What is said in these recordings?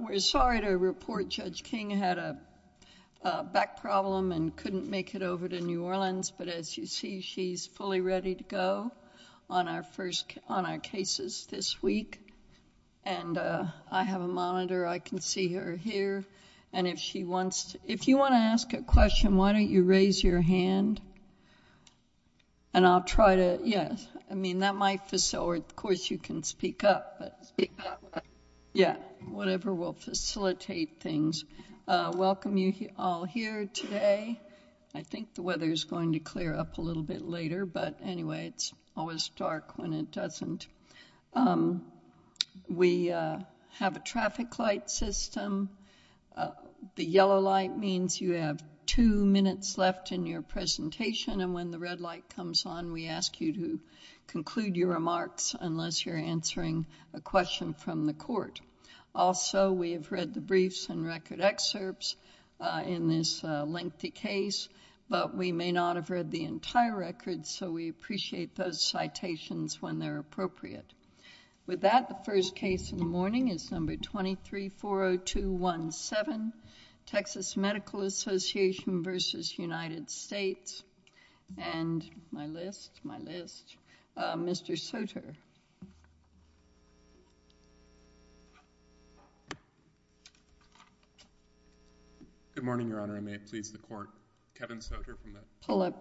We're sorry to report Judge King had a back problem and couldn't make it over to New Orleans but as you see she's fully ready to go on our first on our cases this week and I have a monitor I can see her here and if she wants if you want to ask a question why don't you raise your hand and I'll try to yes I mean that might you can speak up yeah whatever will facilitate things welcome you all here today I think the weather is going to clear up a little bit later but anyway it's always dark when it doesn't we have a traffic light system the yellow light means you have two minutes left in your presentation and when the red light comes on we ask you to conclude your remarks unless you're answering a question from the court also we've read the briefs and record excerpts in this lengthy case but we may not have read the entire record so we appreciate those citations when they're appropriate with that the first case in the morning is number 2340217 Texas Medical Association v. United States and my list, my list Mr. Soter Good morning Your Honor and may it please the court Kevin Soter from the Department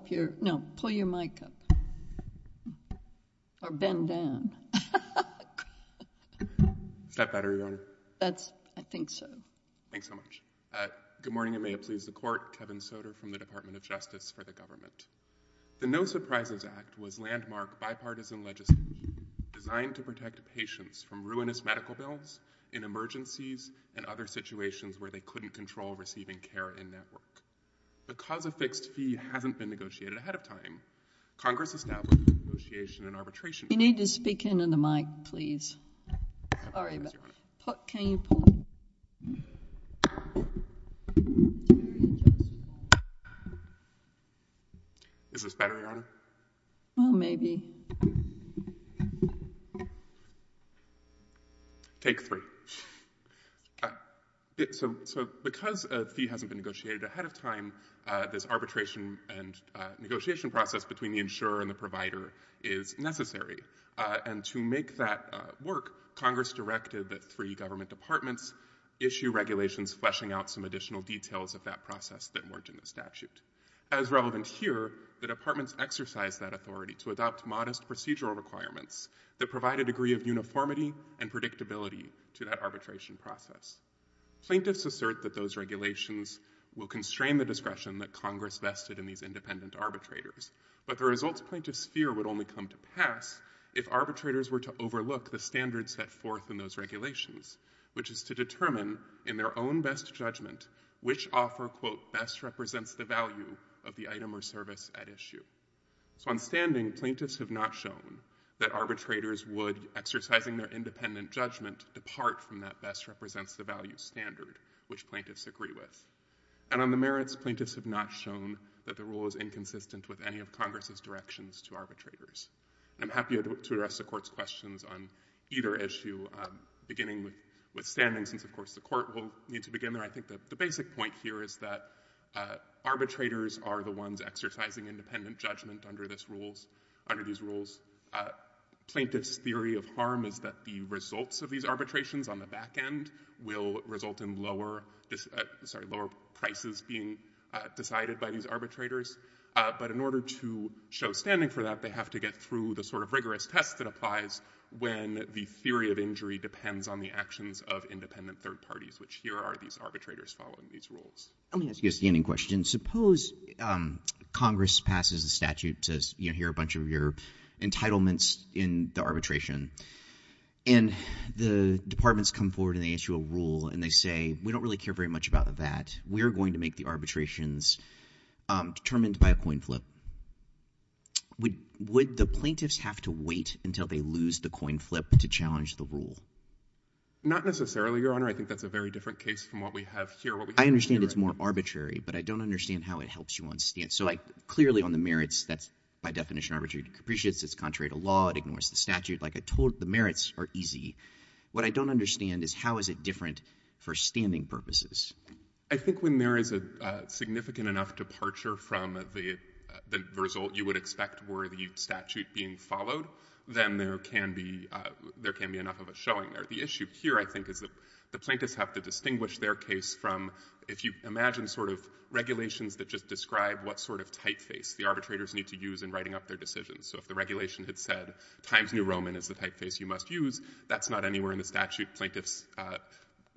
of Justice for the Government. The No Surprises Act was landmark bipartisan legislation designed to protect patients from ruinous medical bills in emergencies and other situations where they couldn't control receiving care and network because a fixed fee hasn't been negotiated ahead of time Congress established a negotiation and arbitration You need to speak into the mic please. Is this better Your Honor? Well maybe. Take three. So because a fee hasn't been negotiated ahead of time this arbitration and negotiation process between the insurer and the provider is necessary and to make that work Congress directed that three government departments issue regulations fleshing out some additional details of that process that weren't in the statute. As relevant here the departments exercise that authority to adopt modest procedural requirements that provide a degree of uniformity and predictability to that arbitration process. Plaintiffs assert that those regulations will constrain the discretion that Congress vested in these independent arbitrators but the results plaintiffs fear would only come to pass if arbitrators were to overlook the standards set forth in those regulations which is to determine in their own best judgment which offer quote best represents the value of the item or service at issue. So on standing plaintiffs have not shown that arbitrators would exercising their independent judgment depart from that best represents the value standard which plaintiffs agree with. And on the merits plaintiffs have not shown that the rule is inconsistent with any of Congress's directions to arbitrators. And I'm happy to address the court's questions on either issue beginning with standing since of course the court will need to begin there. I think that the basic point here is that arbitrators are the ones exercising independent judgment under this rules, under these rules. Plaintiffs theory of harm is that the results of these arbitrations on the back end will result in lower prices being decided by these arbitrators. But in order to show standing for that they have to get through the sort of rigorous test that applies when the theory of injury depends on the actions of independent third parties which here are these arbitrators following these rules. Let me ask you a standing question. Suppose Congress passes a statute to hear a bunch of your entitlements in the arbitration. And the departments come forward and they issue a rule and they say we don't really care very much about that. We are going to make the arbitrations determined by a coin flip. Would the plaintiffs have to wait until they lose the coin flip to challenge the rule? Not necessarily, Your Honor. I think that's a very different case from what we have here. I understand it's more arbitrary, but I don't understand how it helps you on stance. So clearly on the merits, that's by definition arbitrary to capricious. It's contrary to law. It ignores the statute. Like I told you, the merits are easy. What I don't understand is how is it different for standing purposes? I think when there is a significant enough departure from the result you would expect were the statute being followed, then there can be enough of a showing there. But the issue here I think is that the plaintiffs have to distinguish their case from if you imagine sort of regulations that just describe what sort of typeface the arbitrators need to use in writing up their decisions. So if the regulation had said Times New Roman is the typeface you must use, that's not anywhere in the statute. Plaintiffs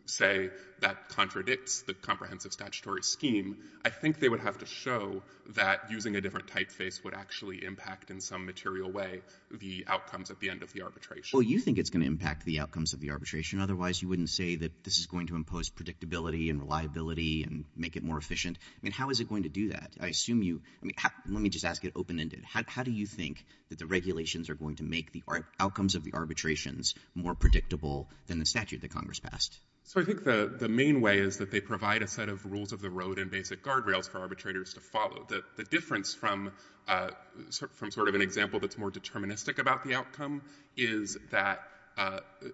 say that contradicts the comprehensive statutory scheme. I think they would have to show that using a different typeface would actually impact in some material way the outcomes at the end of the arbitration. Well, you think it's going to impact the outcomes of the arbitration. Otherwise, you wouldn't say that this is going to impose predictability and reliability and make it more efficient. I mean, how is it going to do that? I assume you – let me just ask it open-ended. How do you think that the regulations are going to make the outcomes of the arbitrations more predictable than the statute that Congress passed? So I think the main way is that they provide a set of rules of the road and basic guardrails for arbitrators to follow. The difference from sort of an example that's more deterministic about the outcome is that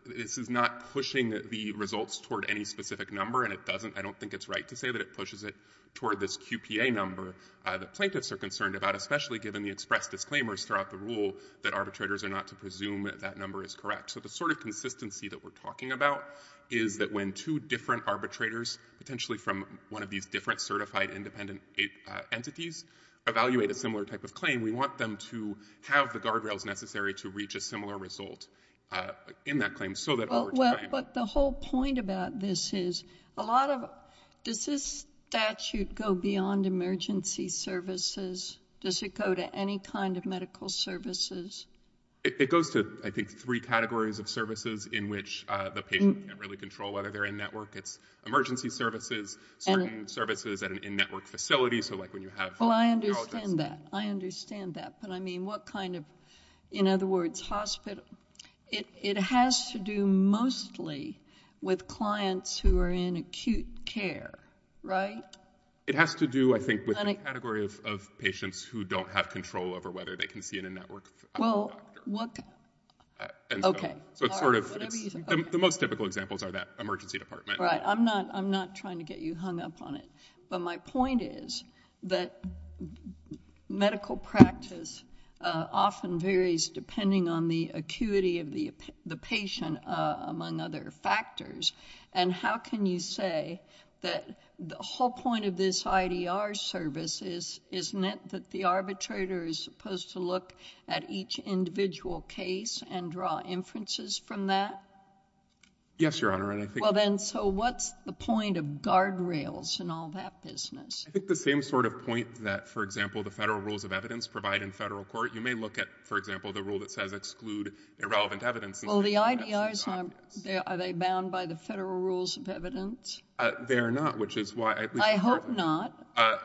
this is not pushing the results toward any specific number, and it doesn't – I don't think it's right to say that it pushes it toward this QPA number that plaintiffs are concerned about, especially given the express disclaimers throughout the rule that arbitrators are not to presume that that number is correct. So the sort of consistency that we're talking about is that when two different arbitrators, potentially from one of these different certified independent entities, evaluate a similar type of claim, we want them to have the guardrails necessary to reach a similar result in that claim so that over time— Well, but the whole point about this is a lot of – does this statute go beyond emergency services? Does it go to any kind of medical services? It goes to, I think, three categories of services in which the patient can't really control whether they're in network. It's emergency services, certain services in network facilities, so like when you have neurologists— Well, I understand that. I understand that. But, I mean, what kind of – in other words, hospital – it has to do mostly with clients who are in acute care, right? It has to do, I think, with the category of patients who don't have control over whether they can see a network doctor. Well, what – okay. The most typical examples are that emergency department. Right. I'm not trying to get you hung up on it. But my point is that medical practice often varies depending on the acuity of the patient, among other factors, and how can you say that the whole point of this IDR service is that the arbitrator is supposed to look at each individual case and draw inferences from that? Yes, Your Honor, and I think— Well, then, so what's the point of guardrails and all that business? I think the same sort of point that, for example, the federal rules of evidence provide in federal court. You may look at, for example, the rule that says exclude irrelevant evidence. Well, the IDRs, are they bound by the federal rules of evidence? They are not, which is why— I hope not.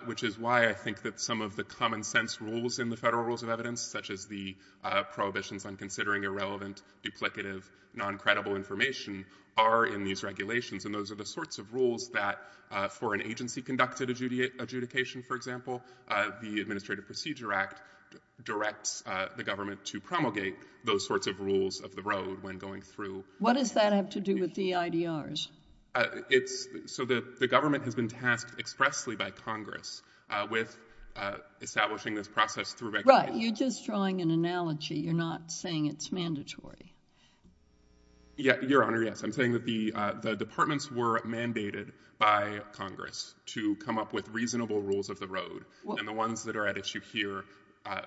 Which is why I think that some of the common-sense rules in the federal rules of evidence, such as the prohibitions on considering irrelevant, duplicative, non-credible information, are in these regulations, and those are the sorts of rules that, for an agency-conducted adjudication, for example, the Administrative Procedure Act directs the government to promulgate those sorts of rules of the road when going through— What does that have to do with the IDRs? So the government has been tasked expressly by Congress with establishing this process through regulations. Right. You're just drawing an analogy. You're not saying it's mandatory. Your Honor, yes. I'm saying that the departments were mandated by Congress to come up with reasonable rules of the road, and the ones that are at issue here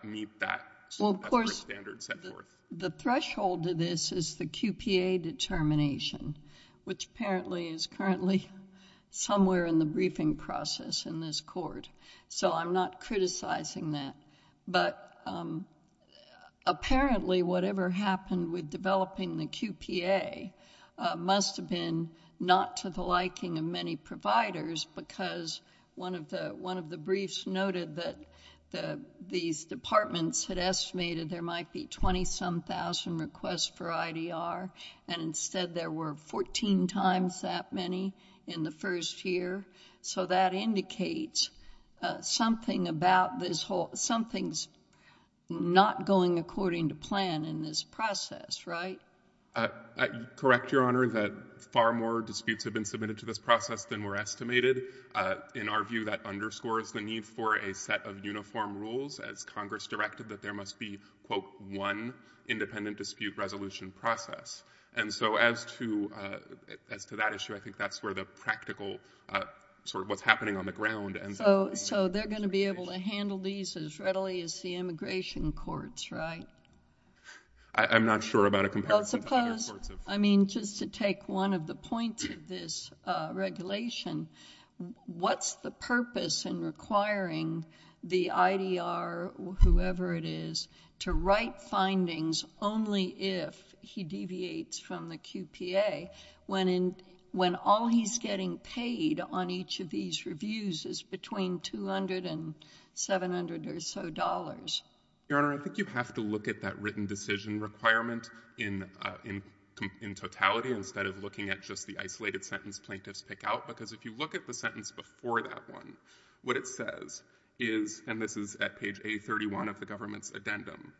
meet that standard set forth. The threshold to this is the QPA determination, which apparently is currently somewhere in the briefing process in this Court, so I'm not criticizing that. But apparently whatever happened with developing the QPA must have been not to the liking of many providers because one of the briefs noted that these departments had estimated there might be 20-some thousand requests for IDR, and instead there were 14 times that many in the first year, so that indicates something's not going according to plan in this process, right? Correct, Your Honor, that far more disputes have been submitted to this process than were estimated. In our view, that underscores the need for a set of uniform rules, as Congress directed that there must be, quote, one independent dispute resolution process. And so as to that issue, I think that's where the practical sort of what's happening on the ground— So they're going to be able to handle these as readily as the immigration courts, right? I'm not sure about a comparison to other courts. Well, suppose—I mean, just to take one of the points of this regulation, what's the purpose in requiring the IDR, whoever it is, to write findings only if he deviates from the QPA when all he's getting paid on each of these reviews is between $200 and $700 or so? Your Honor, I think you have to look at that written decision requirement in totality instead of looking at just the isolated sentence plaintiffs pick out, because if you look at the sentence before that one, what it says is— and this is at page A31 of the government's addendum—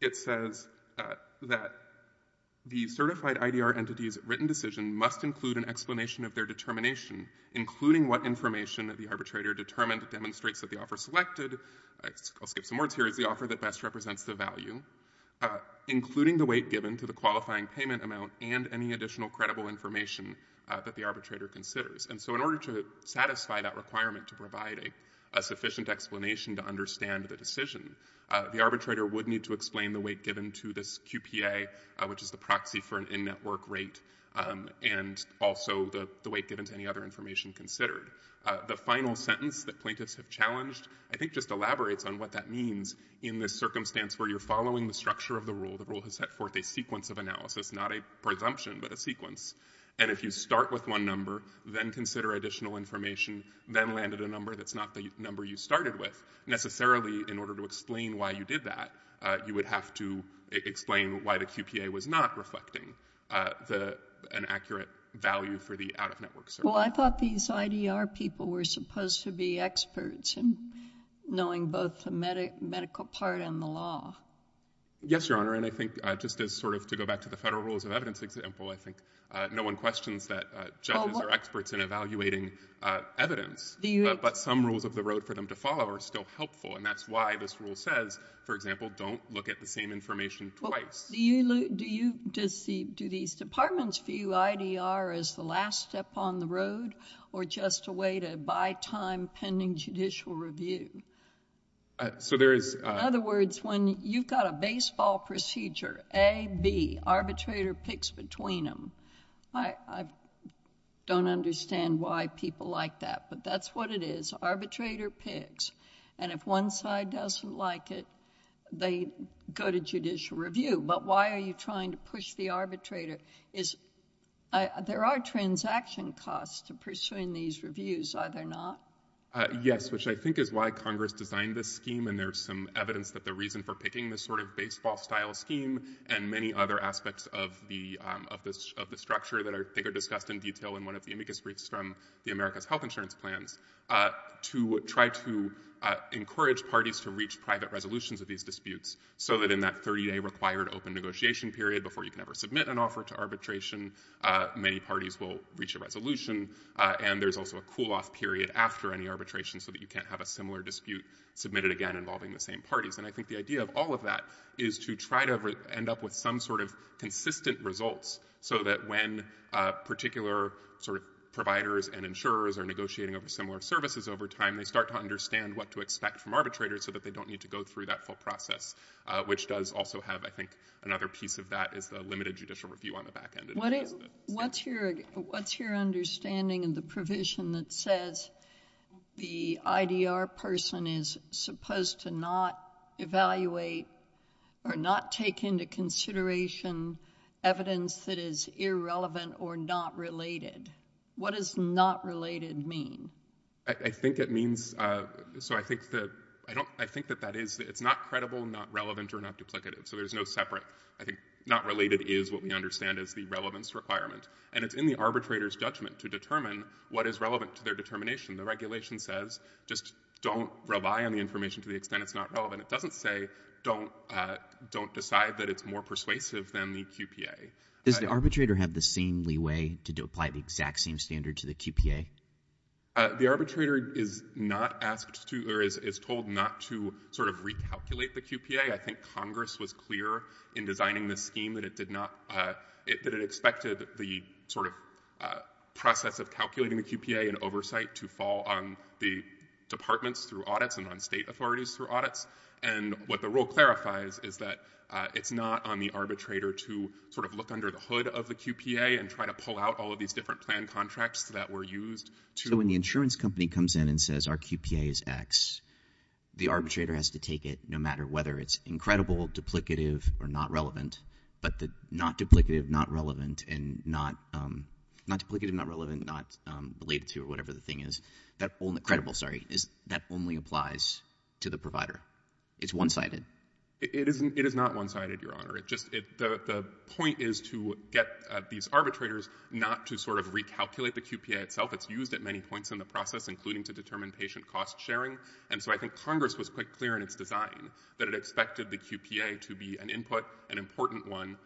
it says that the certified IDR entities' written decision must include an explanation of their determination, including what information the arbitrator determined demonstrates that the offer selected— I'll skip some words here—is the offer that best represents the value, including the weight given to the qualifying payment amount and any additional credible information that the arbitrator considers. And so in order to satisfy that requirement to provide a sufficient explanation to understand the decision, the arbitrator would need to explain the weight given to this QPA, which is the proxy for an in-network rate, and also the weight given to any other information considered. The final sentence that plaintiffs have challenged, I think, just elaborates on what that means in this circumstance where you're following the structure of the rule. The rule has set forth a sequence of analysis, not a presumption, but a sequence. And if you start with one number, then consider additional information, then land at a number that's not the number you started with, necessarily in order to explain why you did that, you would have to explain why the QPA was not reflecting an accurate value for the out-of-network service. Well, I thought these IDR people were supposed to be experts in knowing both the medical part and the law. Yes, Your Honor, and I think just as sort of to go back to the federal rules of evidence example, I think no one questions that judges are experts in evaluating evidence. But some rules of the road for them to follow are still helpful, and that's why this rule says, for example, don't look at the same information twice. Do these departments view IDR as the last step on the road, or just a way to buy time pending judicial review? In other words, when you've got a baseball procedure, A, B, arbitrator picks between them. I don't understand why people like that, but that's what it is. Arbitrator picks, and if one side doesn't like it, they go to judicial review. But why are you trying to push the arbitrator? There are transaction costs to pursuing these reviews, are there not? Yes, which I think is why Congress designed this scheme, and there's some evidence that the reason for picking this sort of baseball-style scheme and many other aspects of the structure that I think are discussed in detail in one of the amicus briefs from the America's Health Insurance Plans to try to encourage parties to reach private resolutions of these disputes so that in that 30-day required open negotiation period before you can ever submit an offer to arbitration, many parties will reach a resolution, and there's also a cool-off period after any arbitration so that you can't have a similar dispute submitted again involving the same parties. And I think the idea of all of that is to try to end up with some sort of consistent results so that when particular providers and insurers are negotiating over similar services over time, they start to understand what to expect from arbitrators so that they don't need to go through that full process, which does also have, I think, another piece of that is the limited judicial review on the back end. What's your understanding of the provision that says the IDR person is supposed to not evaluate or not take into consideration evidence that is irrelevant or not related? What does not related mean? I think it means—so I think that that is—it's not credible, not relevant, or not duplicative, so there's no separate—I think not related is what we understand as the relevance requirement. And it's in the arbitrator's judgment to determine what is relevant to their determination. The regulation says just don't rely on the information to the extent it's not relevant. It doesn't say don't decide that it's more persuasive than the QPA. Does the arbitrator have the same leeway to apply the exact same standard to the QPA? The arbitrator is not asked to—or is told not to sort of recalculate the QPA. I think Congress was clear in designing this scheme that it did not— that it expected the sort of process of calculating the QPA and oversight to fall on the departments through audits and on state authorities through audits. And what the rule clarifies is that it's not on the arbitrator to sort of look under the hood of the QPA and try to pull out all of these different plan contracts that were used to— So when the insurance company comes in and says our QPA is X, the arbitrator has to take it no matter whether it's incredible, duplicative, or not relevant. But the not duplicative, not relevant, and not—not duplicative, not relevant, not related to, or whatever the thing is, that only—credible, sorry—that only applies to the provider. It's one-sided. It is not one-sided, Your Honor. It just—the point is to get these arbitrators not to sort of recalculate the QPA itself. It's used at many points in the process, including to determine patient cost sharing. And so I think Congress was quite clear in its design that it expected the QPA to be an input, an important one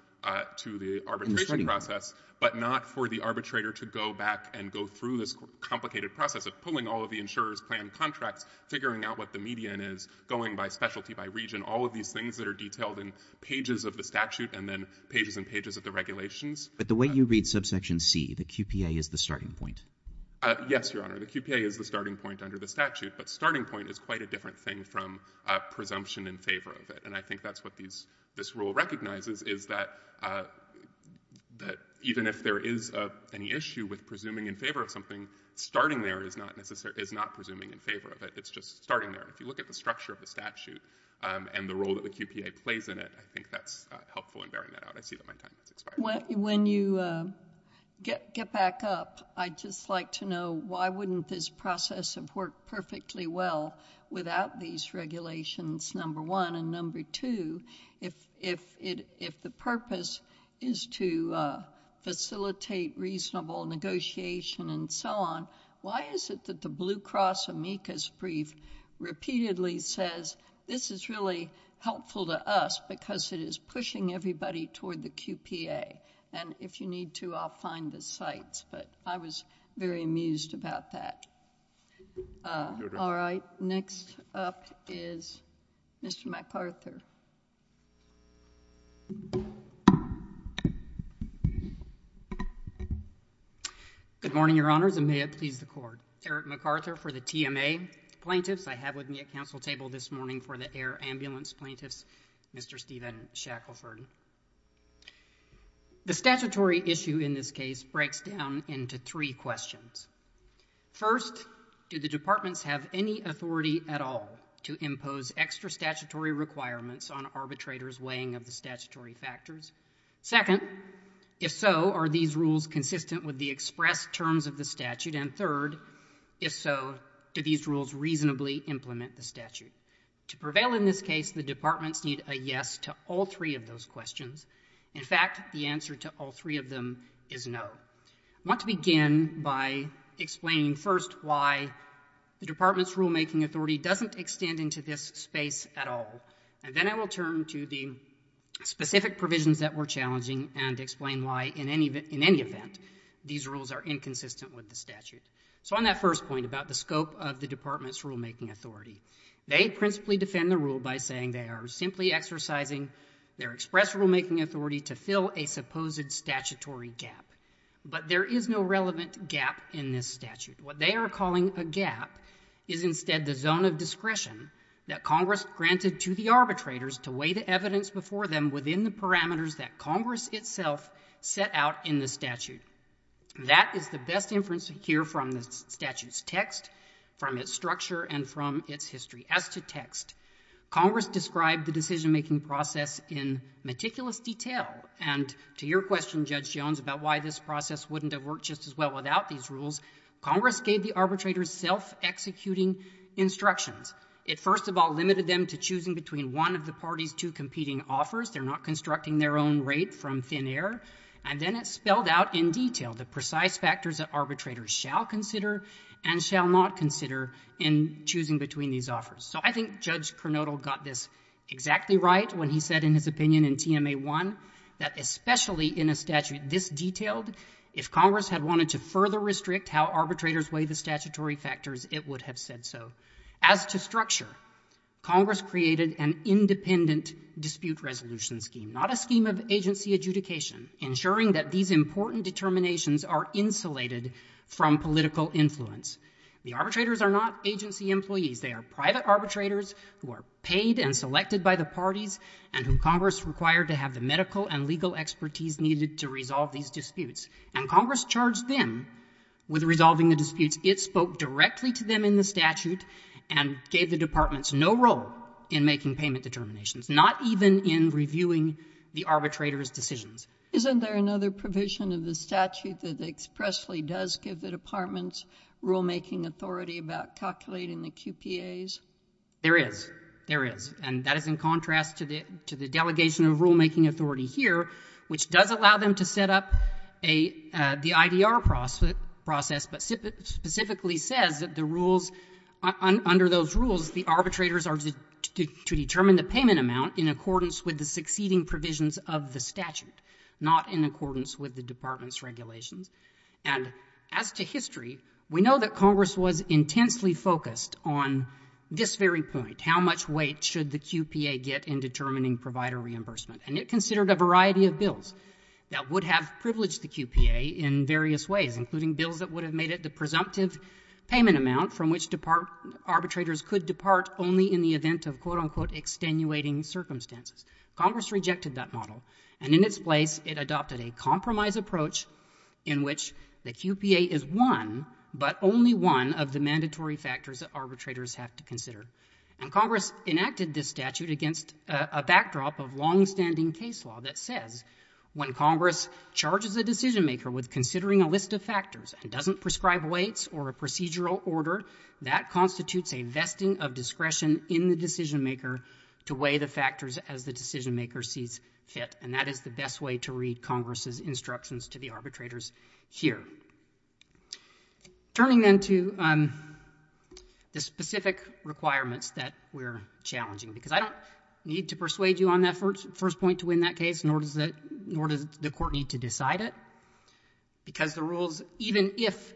to the arbitration process, but not for the arbitrator to go back and go through this complicated process of pulling all of the insurer's plan contracts, figuring out what the median is, going by specialty, by region, all of these things that are detailed in pages of the statute and then pages and pages of the regulations. But the way you read subsection C, the QPA is the starting point. Yes, Your Honor. The QPA is the starting point under the statute. But starting point is quite a different thing from presumption in favor of it. And I think that's what these—this rule recognizes is that—that even if there is any issue with presuming in favor of something, starting there is not presuming in favor of it. It's just starting there. If you look at the structure of the statute and the role that the QPA plays in it, I think that's helpful in bearing that out. I see that my time has expired. When you get back up, I'd just like to know, why wouldn't this process have worked perfectly well without these regulations, number one? And number two, if the purpose is to facilitate reasonable negotiation and so on, why is it that the Blue Cross amicus brief repeatedly says, this is really helpful to us because it is pushing everybody toward the QPA? And if you need to, I'll find the sites. But I was very amused about that. All right. Next up is Mr. McArthur. Good morning, Your Honors, and may it please the Court. Eric McArthur for the TMA plaintiffs. I have with me a counsel table this morning for the air ambulance plaintiffs, Mr. Stephen Shackelford. The statutory issue in this case breaks down into three questions. First, do the departments have any authority at all to impose extra statutory requirements on arbitrators' weighing of the statutory factors? Second, if so, are these rules consistent with the expressed terms of the statute? And third, if so, do these rules reasonably implement the statute? To prevail in this case, the departments need a yes to all three of those questions. In fact, the answer to all three of them is no. I want to begin by explaining first why the department's rulemaking authority doesn't extend into this space at all. And then I will turn to the specific provisions that were challenging and explain why, in any event, these rules are inconsistent with the statute. So on that first point about the scope of the department's rulemaking authority, they principally defend the rule by saying they are simply exercising their expressed rulemaking authority to fill a supposed statutory gap. But there is no relevant gap in this statute. What they are calling a gap is instead the zone of discretion that Congress granted to the arbitrators to weigh the evidence before them within the parameters that Congress itself set out in the statute. That is the best inference here from the statute's text, from its structure, and from its history. As to text, Congress described the decision-making process in meticulous detail. And to your question, Judge Jones, about why this process wouldn't have worked just as well without these rules, Congress gave the arbitrators self-executing instructions. It, first of all, limited them to choosing between one of the party's two competing offers. They're not constructing their own rate from thin air. And then it spelled out in detail the precise factors that arbitrators shall consider and shall not consider in choosing between these offers. So I think Judge Kernodle got this exactly right when he said in his opinion in TMA-1 that especially in a statute this detailed, if Congress had wanted to further restrict how arbitrators weigh the statutory factors, it would have said so. As to structure, Congress created an independent dispute resolution scheme, not a scheme of agency adjudication, ensuring that these important determinations are insulated from political influence. The arbitrators are not agency employees. They are private arbitrators who are paid and selected by the parties and whom political and legal expertise needed to resolve these disputes. And Congress charged them with resolving the disputes. It spoke directly to them in the statute and gave the departments no role in making payment determinations, not even in reviewing the arbitrators' decisions. Isn't there another provision of the statute that expressly does give the departments rulemaking authority about calculating the QPAs? There is. There is. And that is in contrast to the delegation of rulemaking authority here, which does allow them to set up the IDR process but specifically says that the rules, under those rules, the arbitrators are to determine the payment amount in accordance with the succeeding provisions of the statute, not in accordance with the department's regulations. And as to history, we know that Congress was intensely focused on this very point, how much weight should the QPA get in determining provider reimbursement. And it considered a variety of bills that would have privileged the QPA in various ways, including bills that would have made it the presumptive payment amount from which arbitrators could depart only in the event of quote, unquote, extenuating circumstances. Congress rejected that model. And in its place, it adopted a compromise approach in which the QPA is one, but only one, of the mandatory factors that arbitrators have to consider. And Congress enacted this statute against a backdrop of longstanding case law that says when Congress charges a decision-maker with considering a list of factors and doesn't prescribe weights or a procedural order, that constitutes a vesting of discretion in the decision-maker to weigh the factors as the decision-maker sees fit. And that is the best way to read Congress's instructions to the arbitrators here. Turning then to the specific requirements that we're challenging. Because I don't need to persuade you on that first point to win that case, nor does the court need to decide it. Because the rules, even if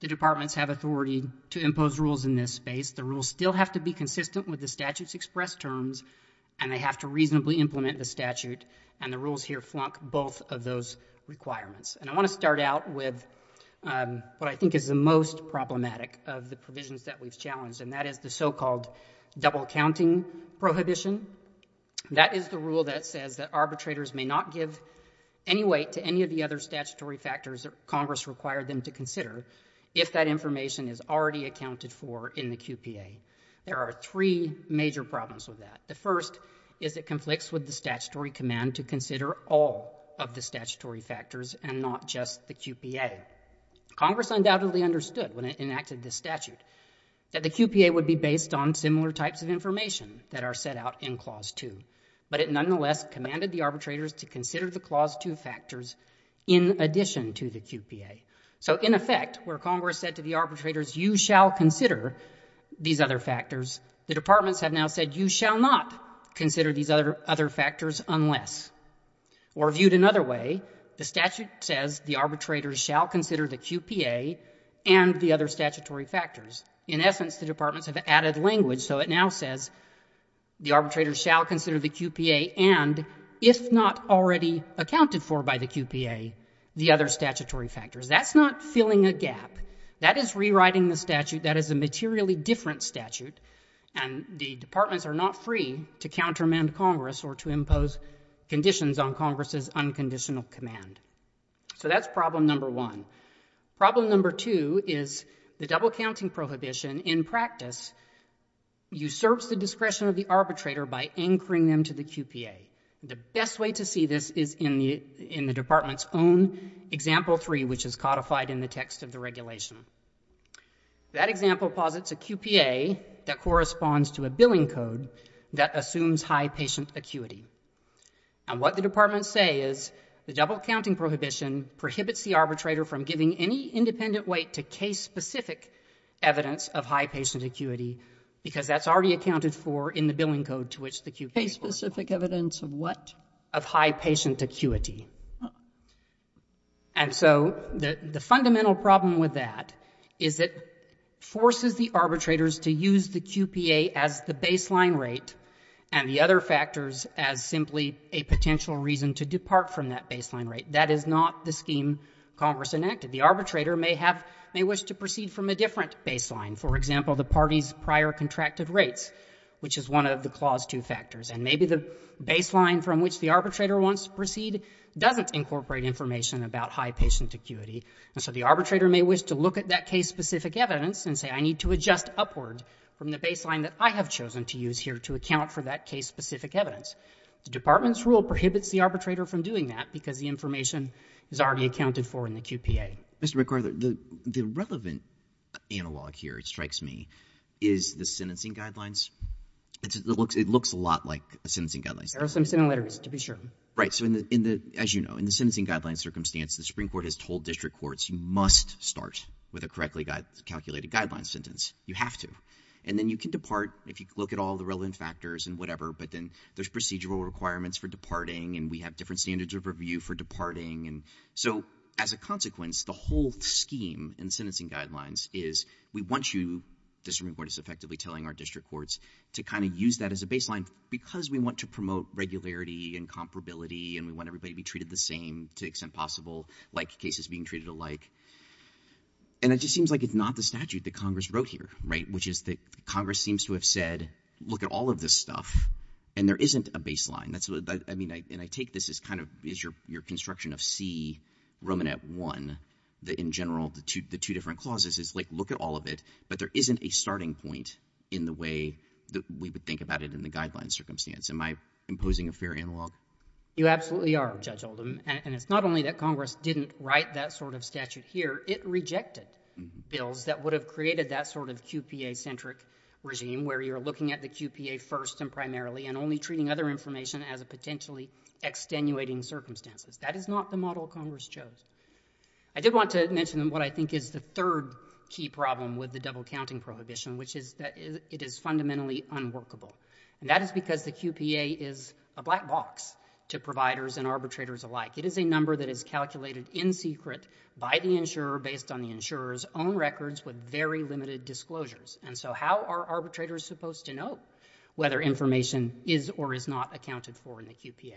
the departments have authority to impose rules in this space, the rules still have to be consistent with the statute's expressed terms, and they have to reasonably implement the statute. And the rules here flunk both of those requirements. And I want to start out with what I think is the most problematic of the provisions that we've challenged, and that is the so-called double-counting prohibition. That is the rule that says that arbitrators may not give any weight to any of the other statutory factors that Congress required them to consider if that information is already accounted for in the QPA. There are three major problems with that. The first is it conflicts with the statutory command to consider all of the factors and not just the QPA. Congress undoubtedly understood when it enacted the statute that the QPA would be based on similar types of information that are set out in Clause 2. But it nonetheless commanded the arbitrators to consider the Clause 2 factors in addition to the QPA. So in effect, where Congress said to the arbitrators, you shall consider these other factors, the departments have now said, you shall not consider these other factors unless. Or viewed another way, the statute says the arbitrators shall consider the QPA and the other statutory factors. In essence, the departments have added language, so it now says the arbitrators shall consider the QPA and, if not already accounted for by the QPA, the other statutory factors. That's not filling a gap. That is rewriting the statute. That is a materially different statute, and the departments are not free to impose conditions on Congress's unconditional command. So that's problem number one. Problem number two is the double-counting prohibition in practice usurps the discretion of the arbitrator by anchoring them to the QPA. The best way to see this is in the department's own Example 3, which is codified in the text of the regulation. That example posits a QPA that corresponds to a billing code that assumes high patient acuity. And what the departments say is the double-counting prohibition prohibits the arbitrator from giving any independent weight to case-specific evidence of high patient acuity, because that's already accounted for in the billing code to which the QPA was. Case-specific evidence of what? Of high patient acuity. And so the fundamental problem with that is it forces the arbitrators to use the QPA as simply a potential reason to depart from that baseline rate. That is not the scheme Congress enacted. The arbitrator may wish to proceed from a different baseline, for example, the party's prior contracted rates, which is one of the Clause 2 factors. And maybe the baseline from which the arbitrator wants to proceed doesn't incorporate information about high patient acuity. And so the arbitrator may wish to look at that case-specific evidence and say, I need to adjust upward from the baseline that I have chosen to use here to account for that case-specific evidence. The Department's rule prohibits the arbitrator from doing that because the information is already accounted for in the QPA. Mr. McArthur, the relevant analog here, it strikes me, is the sentencing guidelines. It looks a lot like the sentencing guidelines. There are some similarities, to be sure. Right. So as you know, in the sentencing guidelines circumstance, the Supreme Court has told district courts you must start with a correctly calculated guidelines sentence. You have to. And then you can depart if you look at all the relevant factors and whatever, but then there's procedural requirements for departing, and we have different standards of review for departing. And so as a consequence, the whole scheme in sentencing guidelines is we want you, the Supreme Court is effectively telling our district courts, to kind of use that as a baseline because we want to promote regularity and comparability and we want everybody to be treated the same to the extent possible, like cases being treated alike. And it just seems like it's not the statute that Congress wrote here, right, which is that Congress seems to have said, look at all of this stuff, and there isn't a baseline. That's what I mean. And I take this as kind of your construction of C, Romanet 1, that in general, the two different clauses is like, look at all of it, but there isn't a starting point in the way that we would think about it in the guidelines circumstance. Am I imposing a fair analog? You absolutely are, Judge Oldham. And it's not only that Congress didn't write that sort of statute here, it would have created that sort of QPA-centric regime where you're looking at the QPA first and primarily and only treating other information as a potentially extenuating circumstances. That is not the model Congress chose. I did want to mention what I think is the third key problem with the double counting prohibition, which is that it is fundamentally unworkable. And that is because the QPA is a black box to providers and arbitrators alike. It is a number that is calculated in secret by the insurer based on the very limited disclosures. And so how are arbitrators supposed to know whether information is or is not accounted for in the QPA?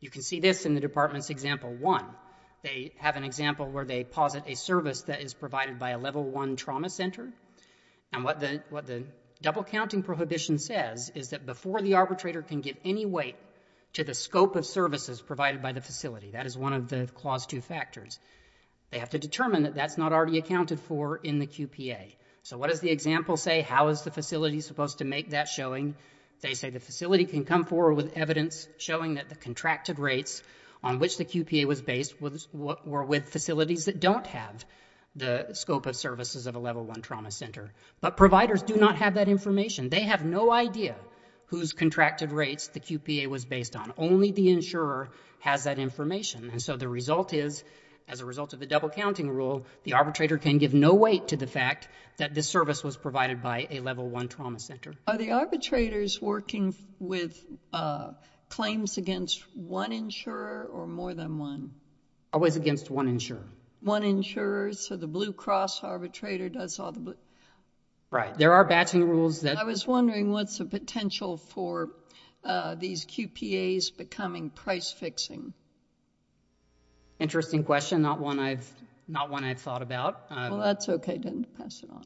You can see this in the department's example one. They have an example where they posit a service that is provided by a level one trauma center. And what the double counting prohibition says is that before the arbitrator can give any weight to the scope of services provided by the facility, that is one of the clause two factors, they have to determine that that's not already accounted for in the QPA. So what does the example say? How is the facility supposed to make that showing? They say the facility can come forward with evidence showing that the contracted rates on which the QPA was based were with facilities that don't have the scope of services of a level one trauma center. But providers do not have that information. They have no idea whose contracted rates the QPA was based on. Only the insurer has that information. And so the result is, as a result of the double counting rule, the arbitrator can give no weight to the fact that this service was provided by a level one trauma center. Are the arbitrators working with claims against one insurer or more than one? Always against one insurer. One insurer. So the Blue Cross arbitrator does all the blue. Right. There are batching rules. I was wondering what's the potential for these QPAs becoming price fixing? Interesting question. Not one I've thought about. Well, that's OK. Then pass it on.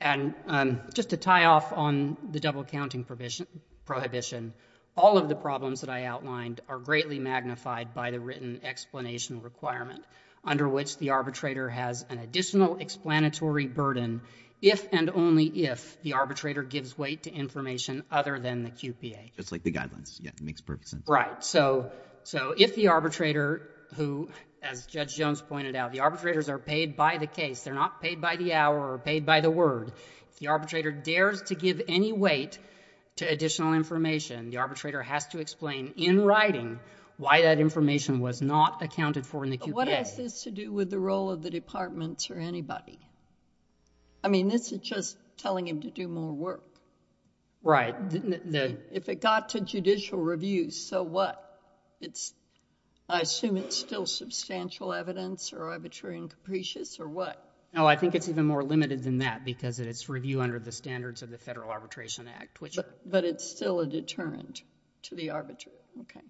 And just to tie off on the double counting prohibition, all of the problems that I outlined are greatly magnified by the written explanation requirement under which the arbitrator has an additional explanatory burden if and only if the arbitrator gives weight to information other than the QPA. It's like the guidelines. Yeah. It makes perfect sense. Right. So if the arbitrator who, as Judge Jones pointed out, the arbitrators are paid by the case. They're not paid by the hour or paid by the word. If the arbitrator dares to give any weight to additional information, the arbitrator has to explain in writing why that information was not accounted for in the QPA. But what has this to do with the role of the departments or anybody? I mean, this is just telling him to do more work. Right. If it got to judicial review, so what? I assume it's still substantial evidence or arbitrary and capricious or what? No, I think it's even more limited than that because it's review under the standards of the Federal Arbitration Act. But it's still a deterrent to the arbitrator. OK.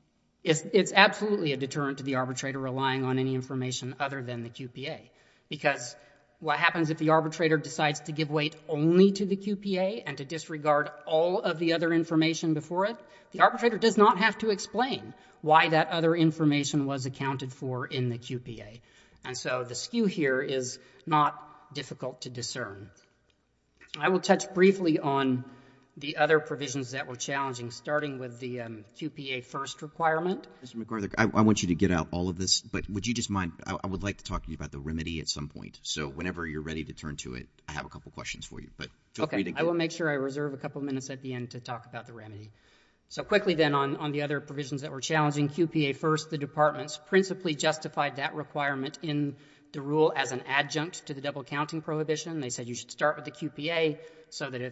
It's absolutely a deterrent to the arbitrator relying on any information other than the QPA because what happens if the arbitrator decides to give weight only to the QPA and to disregard all of the other information before it, the arbitrator does not have to explain why that other information was accounted for in the QPA. And so the skew here is not difficult to discern. I will touch briefly on the other provisions that were challenging, starting with the QPA first requirement. Mr. McArthur, I want you to get out all of this. But would you just mind? I would like to talk to you about the remedy at some point. So whenever you're ready to turn to it, I have a couple of questions for you. But feel free to go. OK. I will make sure I reserve a couple of minutes at the end to talk about the remedy. So quickly then on the other provisions that were challenging, QPA first. The departments principally justified that requirement in the rule as an adjunct to the double-counting prohibition. They said you should start with the QPA so that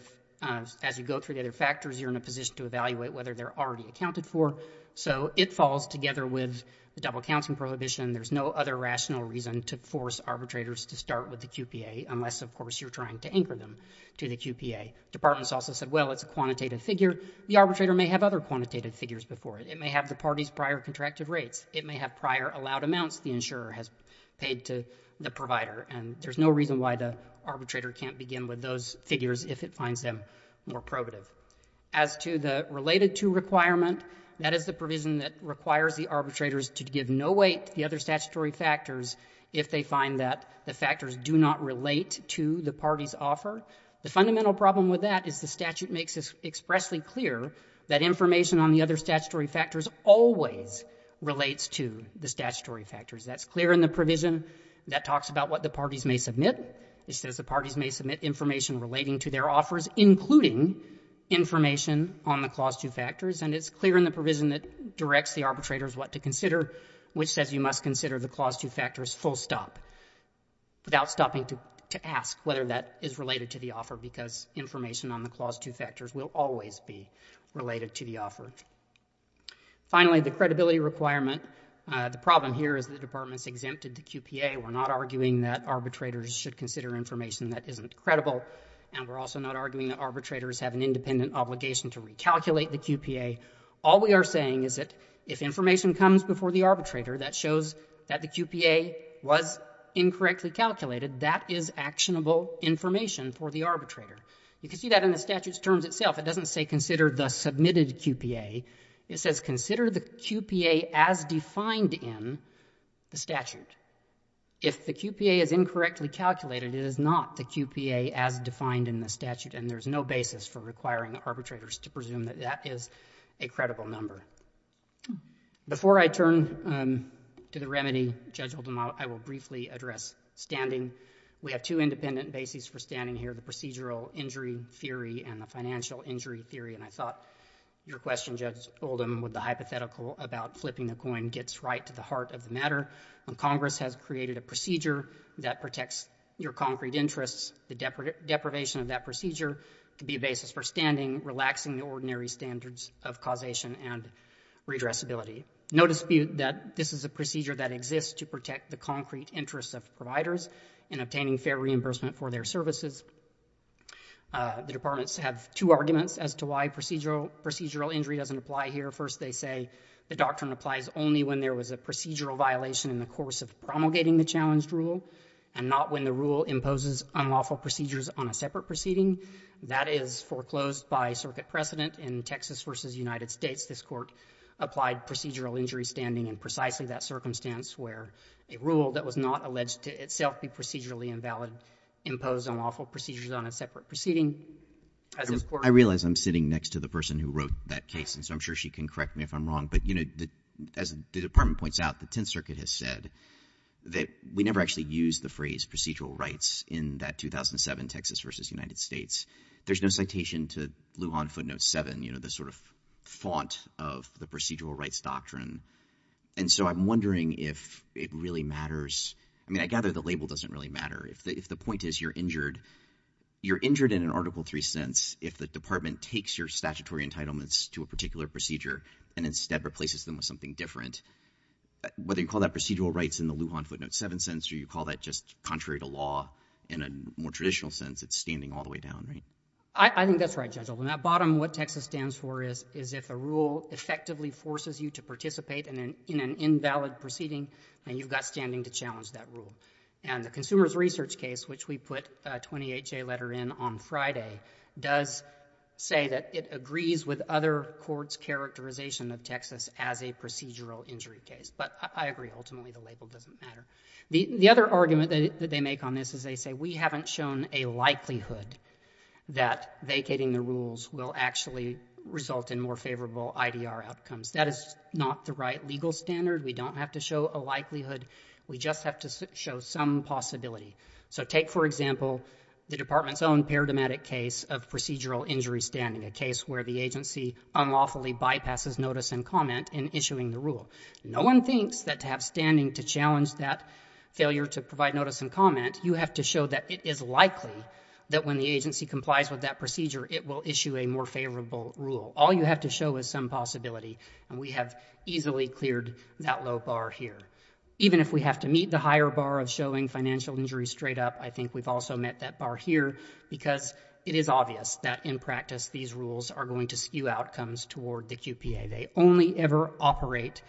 as you go through the other factors, you're in a position to evaluate whether they're already accounted for. So it falls together with the double-counting prohibition. There's no other rational reason to force arbitrators to start with the QPA unless, of course, you're trying to anchor them to the QPA. Departments also said, well, it's a quantitative figure. The arbitrator may have other quantitative figures before it. It may have the party's prior contracted rates. It may have prior allowed amounts the insurer has paid to the provider. And there's no reason why the arbitrator can't begin with those figures if it finds them more probative. As to the related to requirement, that is the provision that requires the arbitrators to give no weight to the other statutory factors if they find that the factors do not relate to the party's offer. The fundamental problem with that is the statute makes it expressly clear that information on the other statutory factors always relates to the statutory factors. That's clear in the provision. That talks about what the parties may submit. It says the parties may submit information relating to their offers, including information on the Clause 2 factors. And it's clear in the provision that directs the arbitrators what to consider, which says you must consider the Clause 2 factors full stop, without stopping to ask whether that is related to the offer, because information on the Clause 2 factors will always be related to the offer. Finally, the credibility requirement. The problem here is the Department's exempted the QPA. We're not arguing that arbitrators should consider information that isn't credible. And we're also not arguing that arbitrators have an independent obligation to recalculate the QPA. All we are saying is that if information comes before the arbitrator that shows that the QPA was incorrectly calculated, that is actionable information for the arbitrator. You can see that in the statute's terms itself. It doesn't say consider the submitted QPA. It says consider the QPA as defined in the statute. If the QPA is incorrectly calculated, it is not the QPA as defined in the statute. And there's no basis for requiring arbitrators to presume that that is a credible number. Before I turn to the remedy, Judge Oldham, I will briefly address standing. We have two independent bases for standing here, the procedural injury theory and the financial injury theory. And I thought your question, Judge Oldham, with the hypothetical about flipping the coin gets right to the heart of the matter. Congress has created a procedure that protects your concrete interests. The deprivation of that procedure can be a basis for standing, relaxing the ordinary standards of causation and redressability. No dispute that this is a procedure that exists to protect the concrete interests of providers in obtaining fair reimbursement for their services. The departments have two arguments as to why procedural injury doesn't apply here. First, they say the doctrine applies only when there was a procedural violation in the course of promulgating the challenged rule and not when the rule imposes unlawful procedures on a separate proceeding. That is foreclosed by circuit precedent in Texas versus United States. This court applied procedural injury standing in precisely that circumstance where a rule that was not alleged to itself be procedurally invalid imposed unlawful procedures on a separate proceeding. I realize I'm sitting next to the person who wrote that case, and so I'm sure she can correct me if I'm wrong. But, you know, as the department points out, the Tenth Circuit has said that we never actually used the phrase procedural rights in that 2007 Texas versus United States. There's no citation to Lujan Footnote 7, you know, the sort of font of the procedural rights doctrine. And so I'm wondering if it really matters. I mean, I gather the label doesn't really matter. If the point is you're injured, you're injured in an Article 3 sense if the department takes your statutory entitlements to a particular procedure and instead replaces them with something different. Whether you call that procedural rights in the Lujan Footnote 7 sense or you call that just contrary to law in a more traditional sense, it's standing all the way down, right? I think that's right, Judge Oldham. At bottom, what Texas stands for is if a rule effectively forces you to participate in an invalid proceeding, then you've got standing to challenge that rule. And the Consumer's Research case, which we put a 28-J letter in on Friday, does say that it agrees with other courts' characterization of Texas as a procedural injury case. But I agree, ultimately the label doesn't matter. The other argument that they make on this is they say we haven't shown a likelihood that vacating the rules will actually result in more favorable IDR outcomes. That is not the right legal standard. We don't have to show a likelihood. We just have to show some possibility. So take, for example, the Department's own paradigmatic case of procedural injury standing, a case where the agency unlawfully bypasses notice and comment in issuing the rule. No one thinks that to have standing to challenge that failure to provide notice and comment, you have to show that it is likely that when the agency complies with that procedure, it will issue a more favorable rule. All you have to show is some possibility. And we have easily cleared that low bar here. Even if we have to meet the higher bar of showing financial injury straight up, I think we've also met that bar here because it is obvious that in practice these rules are going to skew outcomes toward the QPA. They only ever operate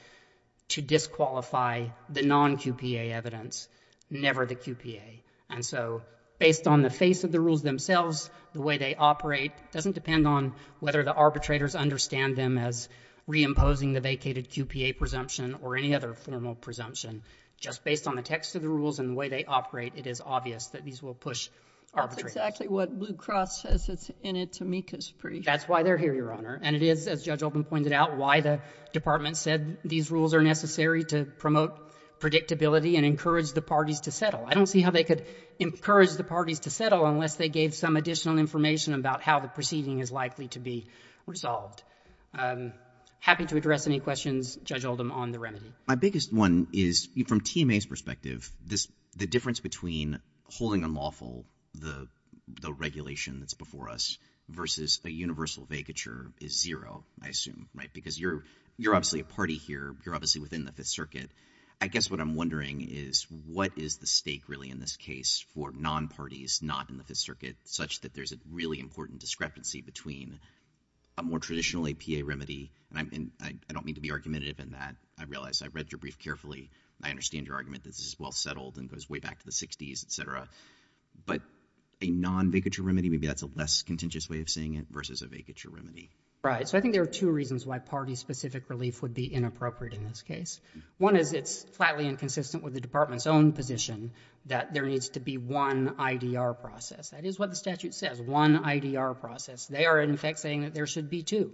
to disqualify the non-QPA evidence, never the QPA. And so based on the face of the rules themselves, the way they operate doesn't depend on whether the arbitrators understand them as reimposing the vacated QPA presumption or any other formal presumption. Just based on the text of the rules and the way they operate, it is obvious that these will push arbitrators. That's exactly what Blue Cross says it's in its amicus brief. That's why they're here, Your Honor. And it is, as Judge Oldham pointed out, why the Department said these rules are necessary to promote predictability and encourage the parties to settle. I don't see how they could encourage the parties to settle unless they gave some additional information about how the proceeding is likely to be resolved. Happy to address any questions, Judge Oldham, on the remedy. My biggest one is from Team A's perspective, the difference between holding unlawful the regulation that's before us versus a universal vacature is zero, I assume, right? Because you're obviously a party here. You're obviously within the Fifth Circuit. I guess what I'm wondering is what is the stake really in this case for non-parties not in the Fifth Circuit such that there's a really important discrepancy between a more traditional APA remedy, and I don't mean to be argumentative in that. I realize I read your brief carefully. I understand your argument. This is well settled and goes way back to the 60s, et cetera. But a non-vacature remedy, maybe that's a less contentious way of saying it, versus a vacature remedy. Right. So I think there are two reasons why party-specific relief would be inappropriate in this case. One is it's flatly inconsistent with the Department's own position that there needs to be one IDR process. That is what the statute says, one IDR process. They are, in effect, saying that there should be two,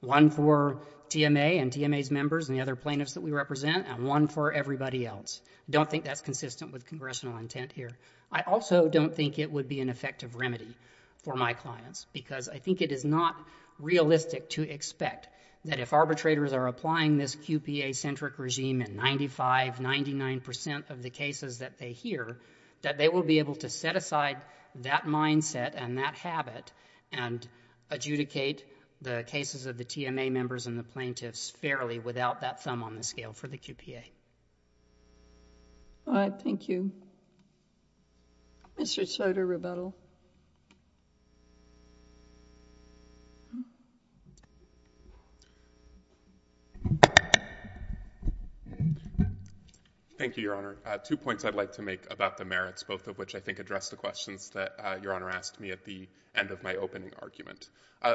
one for TMA and TMA's members and the other plaintiffs that we represent, and one for everybody else. I don't think that's consistent with congressional intent here. I also don't think it would be an effective remedy for my clients because I think it is not realistic to expect that if arbitrators are applying this QPA-centric regime in 95, 99 percent of the cases that they hear, that they will be able to set aside that mindset and that habit and adjudicate the cases of the TMA members and the plaintiffs fairly without that thumb on the scale for the QPA. All right. Thank you. Mr. Soder, rebuttal. Thank you, Your Honor. Two points I'd like to make about the merits, both of which I think address the questions that Your Honor asked me at the end of my opening argument.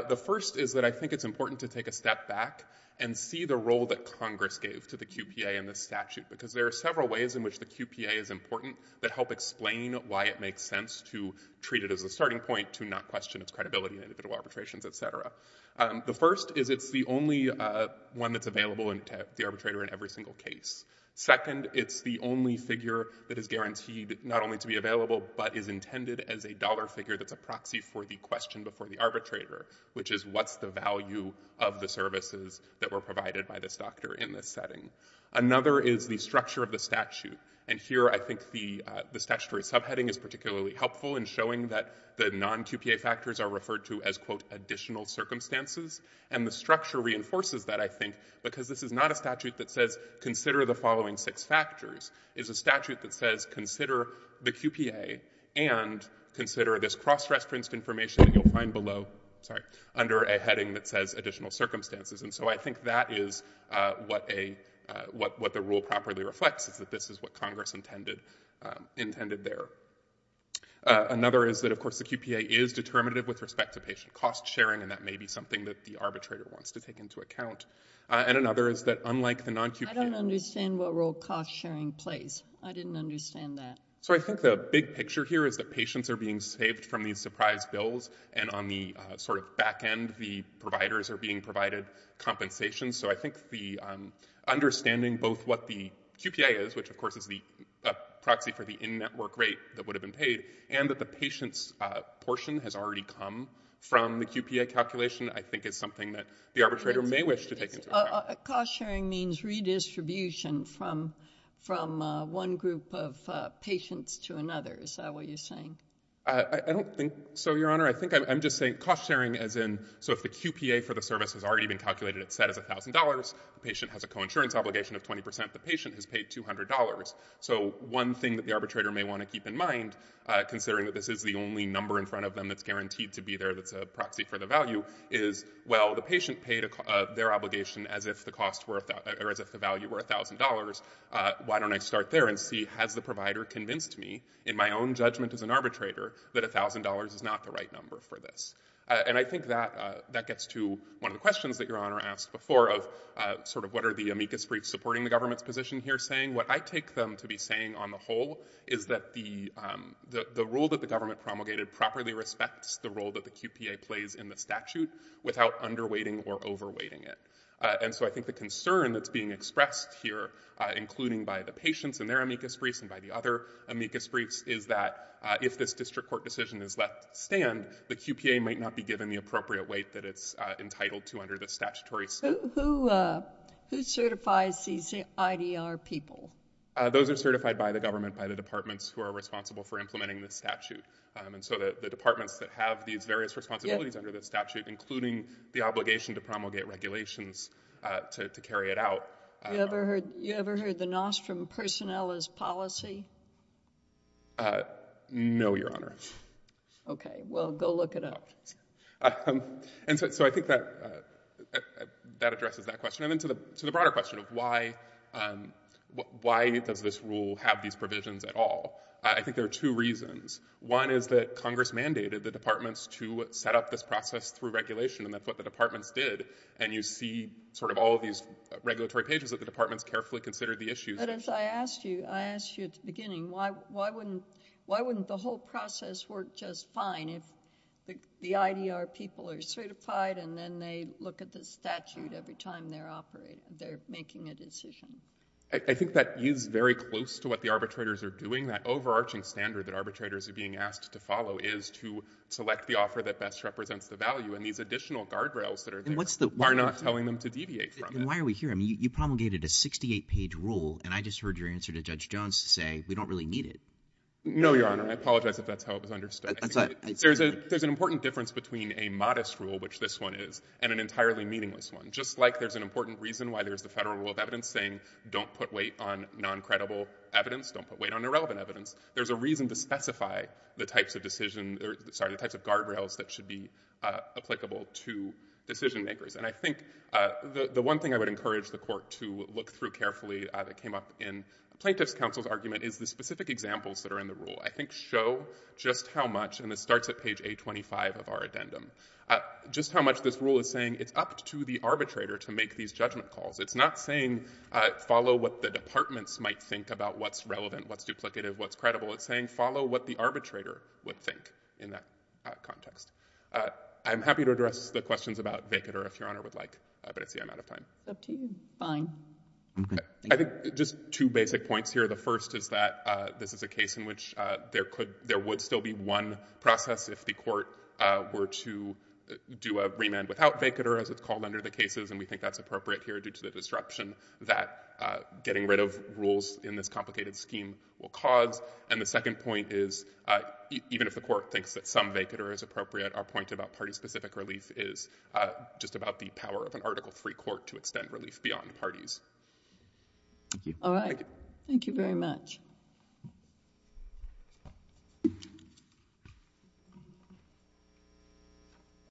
The first is that I think it's important to take a step back and see the role that Congress gave to the QPA in this statute because there are several ways in which the QPA is important that help explain why it makes sense to treat it as a starting point to not question its credibility in individual arbitrations, et cetera. The first is it's the only one that's available to the arbitrator in every single case. Second, it's the only figure that is guaranteed not only to be available but is intended as a dollar figure that's a proxy for the question before the arbitrator, which is what's the value of the services that were provided by this doctor in this setting. Another is the structure of the statute. And here I think the statutory subheading is particularly helpful in showing that the non-QPA factors are referred to as, quote, additional circumstances. And the structure reinforces that, I think, because this is not a statute that says consider the following six factors. It's a statute that says consider the QPA and consider this cross-reference information that you'll find below, sorry, under a heading that says additional circumstances. And so I think that is what the rule properly reflects, is that this is what Congress intended there. Another is that, of course, the QPA is determinative with respect to patient cost sharing, and that may be something that the arbitrator wants to take into account. And another is that unlike the non-QPA... I don't understand what rule cost sharing plays. I didn't understand that. So I think the big picture here is that patients are being saved from these surprise bills, and on the sort of back end, the providers are being provided compensation. So I think the understanding both what the QPA is, which, of course, is the proxy for the in-network rate that would have been paid, and that the patient's portion has already come from the QPA calculation, I think is something that the arbitrator may wish to take into account. Cost sharing means redistribution from one group of patients to another. Is that what you're saying? I don't think so, Your Honor. I think I'm just saying cost sharing as in, so if the QPA for the service has already been calculated, it's set as $1,000, the patient has a co-insurance obligation of 20%, the patient has paid $200. So one thing that the arbitrator may want to keep in mind, considering that this is the only number in front of them that's guaranteed to be there that's a proxy for the value, is, well, the patient paid their obligation as if the value were $1,000. Why don't I start there and see, has the provider convinced me, in my own judgment as an arbitrator, that $1,000 is not the right number for this? And I think that gets to one of the questions that Your Honor asked before of sort of what are the amicus briefs supporting the government's position here saying? What I take them to be saying on the whole is that the rule that the government promulgated properly respects the role that the QPA plays in the statute without underweighting or overweighting it. And so I think the concern that's being expressed here, including by the patients and their amicus briefs and by the other amicus briefs, is that if this district court decision is left to stand, the QPA might not be given the appropriate weight that it's entitled to under the statutory statute. Who certifies these IDR people? Those are certified by the government, by the departments who are responsible for implementing the statute. And so the departments that have these various responsibilities under the statute, including the obligation to promulgate regulations to carry it out. You ever heard the NOS from Personnel as Policy? No, Your Honor. Okay. Well, go look it up. And so I think that addresses that question. And then to the broader question of why does this rule have these provisions at all, I think there are two reasons. One is that Congress mandated the departments to set up this process through regulation, and that's what the departments did. And you see sort of all of these regulatory pages that the departments carefully considered the issues. But as I asked you, I asked you at the beginning, why wouldn't the whole process work just fine if the IDR people are certified and then they look at the statute every time they're making a decision? I think that is very close to what the arbitrators are doing. That overarching standard that arbitrators are being asked to follow is to select the offer that best represents the value. And these additional guardrails that are there are not telling them to deviate from it. And why are we here? I mean, you promulgated a 68-page rule, and I just heard your answer to Judge Jones to say we don't really need it. No, Your Honor. I apologize if that's how it was understood. There's an important difference between a modest rule, which this one is, and an entirely meaningless one. Just like there's an important reason why there's the Federal Rule of Evidence saying don't put weight on non-credible evidence, don't put weight on irrelevant evidence, there's a reason to specify the types of decision — sorry, the types of guardrails that should be applicable to decision-makers. And I think the one thing I would encourage the Court to look through carefully that came up in Plaintiff's Counsel's argument is the specific examples that are in the rule. I think show just how much — and this starts at page 825 of our addendum — just how much this rule is saying it's up to the arbitrator to make these judgment calls. It's not saying follow what the departments might think about what's relevant, what's duplicative, what's credible. It's saying follow what the arbitrator would think in that context. I'm happy to address the questions about Vekater if Your Honor would like, but it's the amount of time. It's up to you. Fine. Okay. I think just two basic points here. The first is that this is a case in which there would still be one process if the remand without Vekater, as it's called under the cases, and we think that's appropriate here due to the disruption that getting rid of rules in this complicated scheme will cause. And the second point is even if the Court thinks that some Vekater is appropriate, our point about party-specific relief is just about the power of an Article III court to extend relief beyond parties. Thank you. All right. Thank you. Thank you very much.